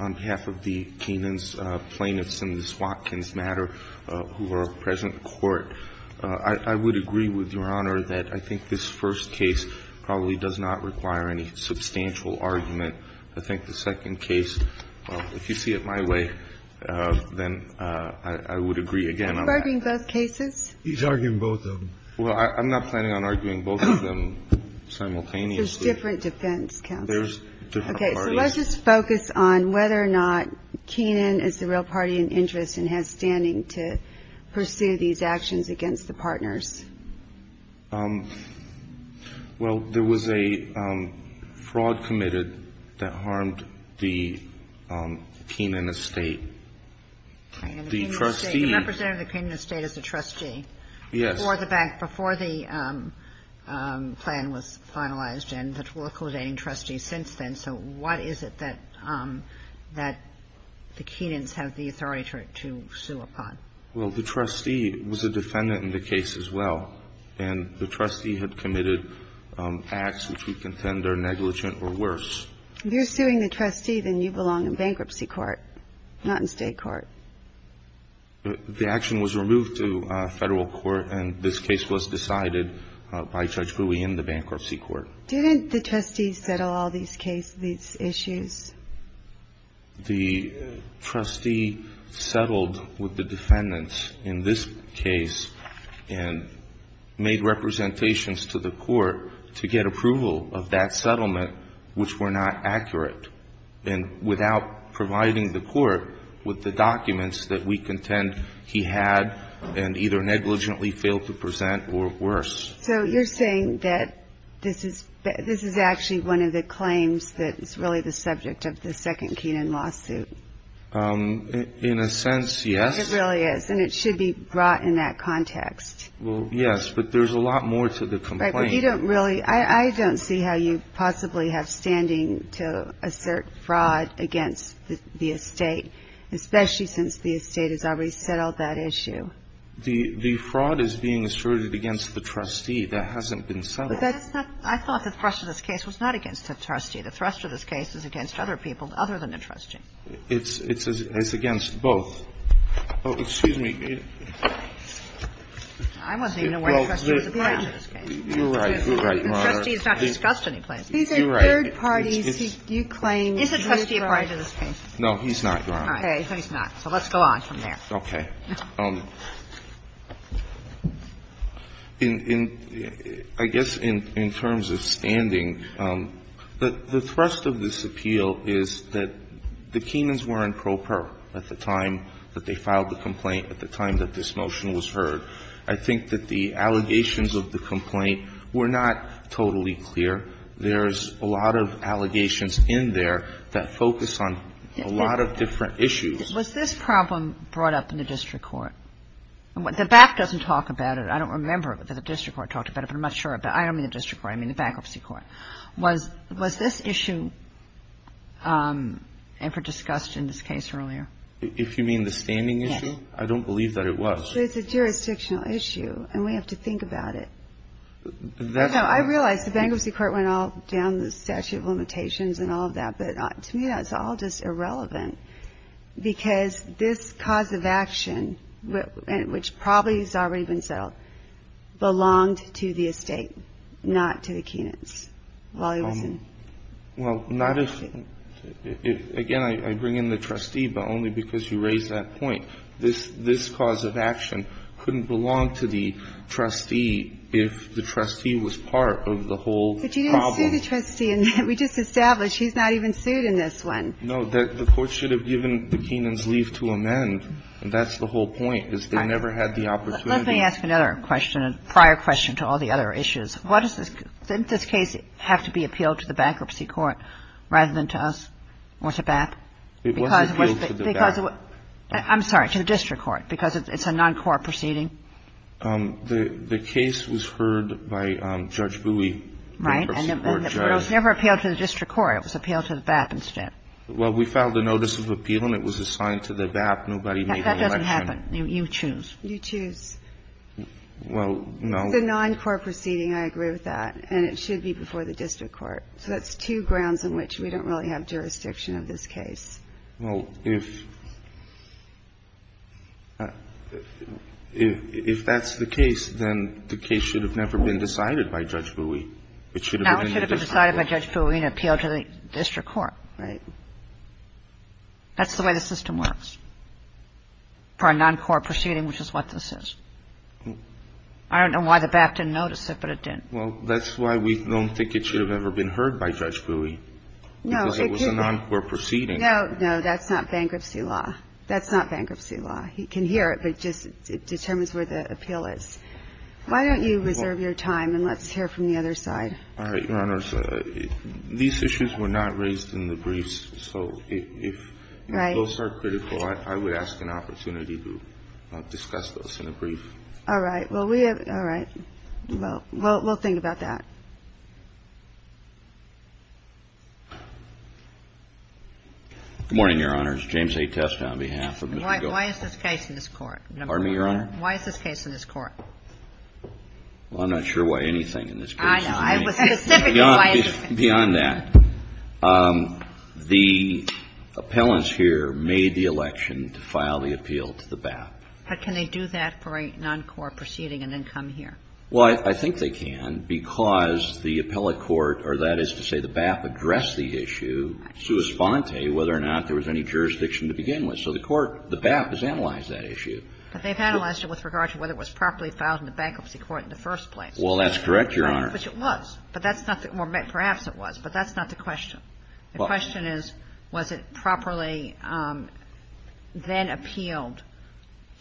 On behalf of the Keenan's plaintiffs in this Watkins matter who are present in court, I would agree with Your Honor that I think this first case probably does not require any substantial argument. I think the second case, if you see it my way, then I would agree again on that. Are you arguing both cases? He's arguing both of them. Well, I'm not planning on arguing both of them simultaneously. There's different defense counsel. There's different parties. Okay, so let's just focus on whether or not Keenan is the real party in interest and has standing to pursue these actions against the partners. Well, there was a fraud committed that harmed the Keenan estate. The trustee. The representative of the Keenan estate is the trustee. Yes. Before the bank, before the plan was finalized and the local trustee since then. So what is it that the Keenan's have the authority to sue upon? Well, the trustee was a defendant in the case as well. And the trustee had committed acts which we contend are negligent or worse. If you're suing the trustee, then you belong in bankruptcy court, not in state court. The action was removed to Federal court, and this case was decided by Judge Bowie in the bankruptcy court. Didn't the trustee settle all these cases, these issues? The trustee settled with the defendants in this case and made representations to the court to get approval of that settlement, which were not accurate. And without providing the court with the documents that we contend he had and either negligently failed to present or worse. So you're saying that this is actually one of the claims that is really the subject of the second Keenan lawsuit? In a sense, yes. It really is. And it should be brought in that context. Well, yes. But there's a lot more to the complaint. But you don't really – I don't see how you possibly have standing to assert fraud against the estate, especially since the estate has already settled that issue. The fraud is being asserted against the trustee. That hasn't been settled. That's not – I thought the thrust of this case was not against the trustee. The thrust of this case is against other people other than the trustee. It's against both. Oh, excuse me. I wasn't even aware the trustee was around in this case. You're right. You're right, Your Honor. The trustee is not discussed any place. He's in third parties. You're right. He claims he is right. Is the trustee a part of this case? No, he's not, Your Honor. Okay. He's not. So let's go on from there. Okay. In – I guess in terms of standing, the thrust of this appeal is that the Keenans were in pro per at the time that they filed the complaint, at the time that this motion was heard. I think that the allegations of the complaint were not totally clear. There's a lot of allegations in there that focus on a lot of different issues. Was this problem brought up in the district court? The back doesn't talk about it. I don't remember that the district court talked about it, but I'm not sure about it. I don't mean the district court. I mean the bankruptcy court. Was this issue ever discussed in this case earlier? If you mean the standing issue? Yes. I don't believe that it was. It's a jurisdictional issue, and we have to think about it. I realize the bankruptcy court went all down the statute of limitations and all of that, but to me that's all just irrelevant, because this cause of action, which probably has already been settled, belonged to the estate, not to the Keenans while he was in – Well, not if – again, I bring in the trustee, but only because you raise that point. This cause of action couldn't belong to the trustee if the trustee was part of the whole problem. But you didn't sue the trustee. We just established he's not even sued in this one. No. The court should have given the Keenans leave to amend, and that's the whole point, because they never had the opportunity. Let me ask another question, a prior question to all the other issues. What is this – didn't this case have to be appealed to the bankruptcy court rather than to us or to BAP? It was appealed to the BAP. I'm sorry, to the district court, because it's a non-court proceeding. The case was heard by Judge Bowie. Right. And it was never appealed to the district court. It was appealed to the BAP instead. Well, we filed a notice of appeal, and it was assigned to the BAP. Nobody made an election. That doesn't happen. You choose. You choose. Well, no. It's a non-court proceeding. I agree with that. And it should be before the district court. So that's two grounds on which we don't really have jurisdiction of this case. Well, if that's the case, then the case should have never been decided by Judge Bowie. It should have been in the district court. No, it should have been decided by Judge Bowie and appealed to the district court. Right. That's the way the system works for a non-court proceeding, which is what this is. I don't know why the BAP didn't notice it, but it did. Well, that's why we don't think it should have ever been heard by Judge Bowie, because it was a non-court proceeding. No, no. That's not bankruptcy law. That's not bankruptcy law. He can hear it, but it just determines where the appeal is. Why don't you reserve your time, and let's hear from the other side. All right, Your Honors. These issues were not raised in the briefs. So if those are critical, I would ask an opportunity to discuss those in a brief. All right. Well, we'll think about that. Good morning, Your Honors. James A. Testa on behalf of Mr. Golden. Why is this case in this court? Pardon me, Your Honor? Why is this case in this court? Well, I'm not sure why anything in this case is in this court. I know. Beyond that, the appellants here made the election to file the appeal to the BAP. But can they do that for a non-court proceeding and then come here? Well, I think they can because the appellate court, or that is to say the BAP, addressed the issue sua sponte, whether or not there was any jurisdiction to begin with. So the court, the BAP, has analyzed that issue. But they've analyzed it with regard to whether it was properly filed in the bankruptcy court in the first place. Well, that's correct, Your Honor. Which it was. But that's not the question. The question is, was it properly then appealed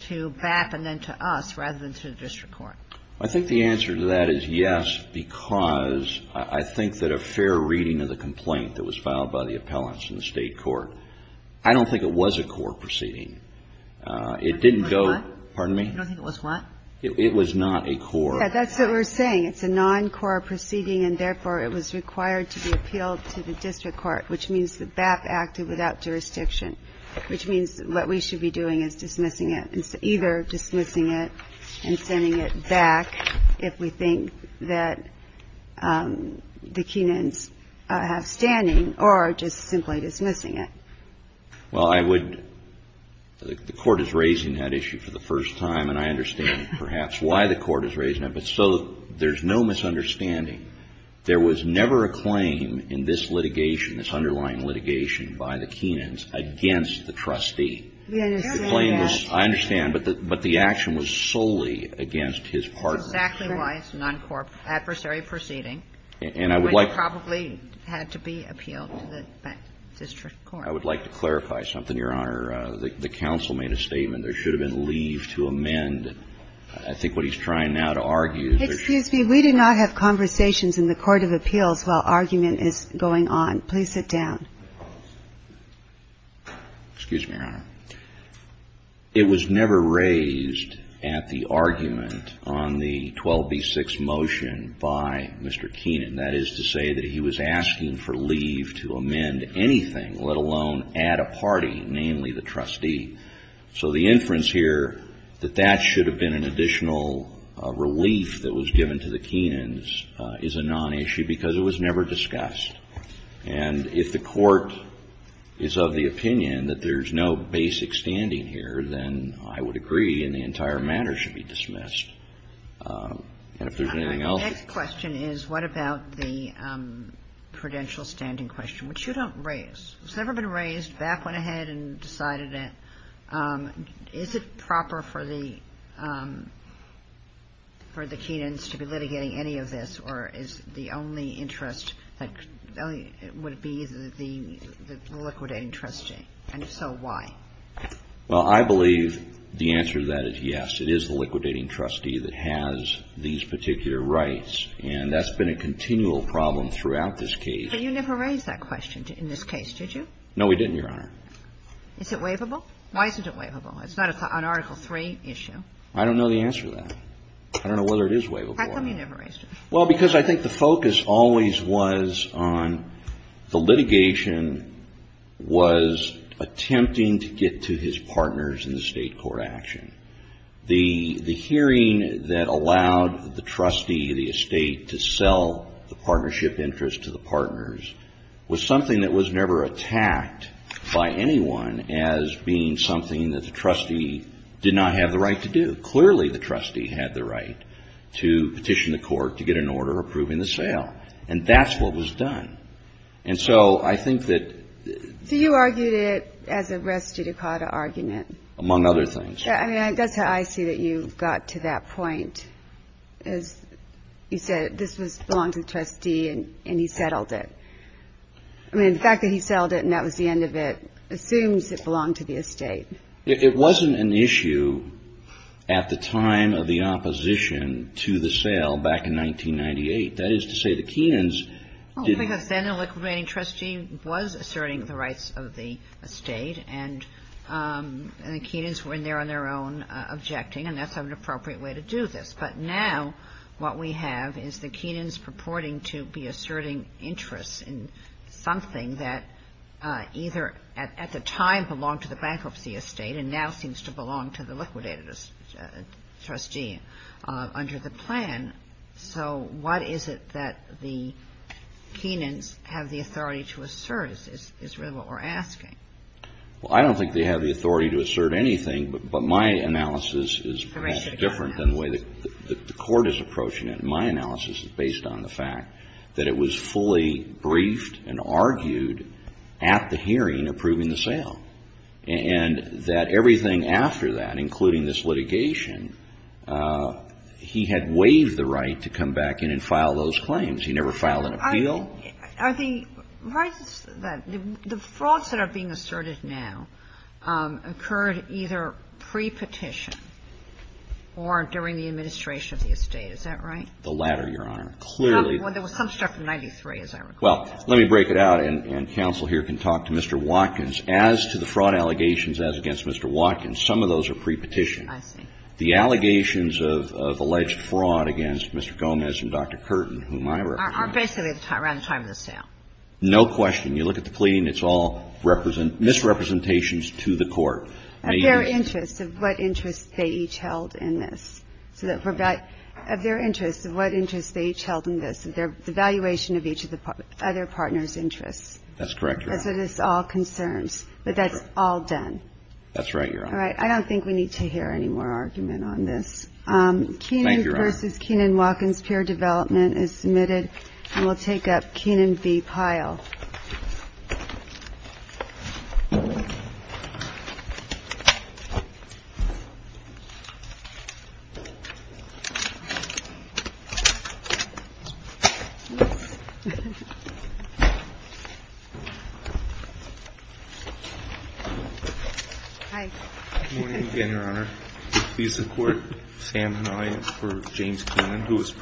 to BAP and then to us rather than to the Well, I think the answer to that is yes, because I think that a fair reading of the complaint that was filed by the appellants in the state court, I don't think it was a court proceeding. It didn't go. Pardon me? I don't think it was what? It was not a court. That's what we're saying. It's a non-court proceeding, and therefore it was required to be appealed to the district court, which means the BAP acted without jurisdiction, which means what we should be doing is dismissing it, either dismissing it and sending it back if we think that the Kenans have standing, or just simply dismissing it. Well, I would, the court is raising that issue for the first time, and I understand perhaps why the court is raising it. But so there's no misunderstanding. There was never a claim in this litigation, this underlying litigation by the Kenans against the trustee. We understand that. I understand, but the action was solely against his partner. That's exactly why it's a non-court adversary proceeding. And I would like to clarify something, Your Honor. The counsel made a statement. There should have been leave to amend, I think what he's trying now to argue. Excuse me. We do not have conversations in the court of appeals while argument is going on. Please sit down. Excuse me, Your Honor. It was never raised at the argument on the 12b-6 motion by Mr. Kenan. That is to say that he was asking for leave to amend anything, let alone add a party, namely the trustee. So the inference here that that should have been an additional relief that was given to the Kenans is a non-issue because it was never discussed. And if the court is of the opinion that there's no basic standing here, then I would agree and the entire matter should be dismissed. And if there's anything else. My next question is what about the prudential standing question, which you don't raise. It's never been raised. Back went ahead and decided it. Is it proper for the Kenans to be litigating any of this, or is the only interest that would be the liquidating trustee? And if so, why? Well, I believe the answer to that is yes. It is the liquidating trustee that has these particular rights. And that's been a continual problem throughout this case. But you never raised that question in this case, did you? No, we didn't, Your Honor. Is it waivable? Why isn't it waivable? It's not an Article III issue. I don't know the answer to that. I don't know whether it is waivable. How come you never raised it? Well, because I think the focus always was on the litigation was attempting to get to his partners in the state court action. The hearing that allowed the trustee of the estate to sell the partnership interest to the partners was something that was never attacked by anyone as being something that the trustee did not have the right to do. Clearly, the trustee had the right to petition the court to get an order approving the sale. And that's what was done. And so I think that — So you argued it as a res judicata argument. Among other things. I mean, that's how I see that you got to that point. As you said, this belonged to the trustee and he settled it. I mean, the fact that he settled it and that was the end of it assumes it belonged to the estate. It wasn't an issue at the time of the opposition to the sale back in 1998. That is to say the Keenans didn't — Well, because then the liquidating trustee was asserting the rights of the estate and the Keenans were in there on their own objecting and that's an appropriate way to do this. But now what we have is the Keenans purporting to be asserting interest in something that either at the time belonged to the bankruptcy estate and now seems to belong to the liquidated trustee under the plan. So what is it that the Keenans have the authority to assert is really what we're asking. Well, I don't think they have the authority to assert anything. But my analysis is perhaps different than the way the court is approaching it. My analysis is based on the fact that it was fully briefed and argued at the hearing approving the sale. And that everything after that, including this litigation, he had waived the right to come back in and file those claims. He never filed an appeal. The frauds that are being asserted now occurred either pre-petition or during the administration of the estate. Is that right? The latter, Your Honor. There was some stuff in 93, as I recall. Well, let me break it out and counsel here can talk to Mr. Watkins. As to the fraud allegations as against Mr. Watkins, some of those are pre-petition. I see. The allegations of alleged fraud against Mr. Gomez and Dr. Curtin, whom I represent. Are basically around the time of the sale. No question. You look at the plea and it's all misrepresentations to the court. Of their interest, of what interest they each held in this. Of their interest, of what interest they each held in this. The valuation of each of the other partners' interests. That's correct, Your Honor. That's what this all concerns. But that's all done. That's right, Your Honor. All right. Thank you, Your Honor. This is Kenan Watkins, Peer Development is submitted. And we'll take up Kenan B. Pyle. Hi. Good morning again, Your Honor. Please support Sam and I for James Kenan, who is.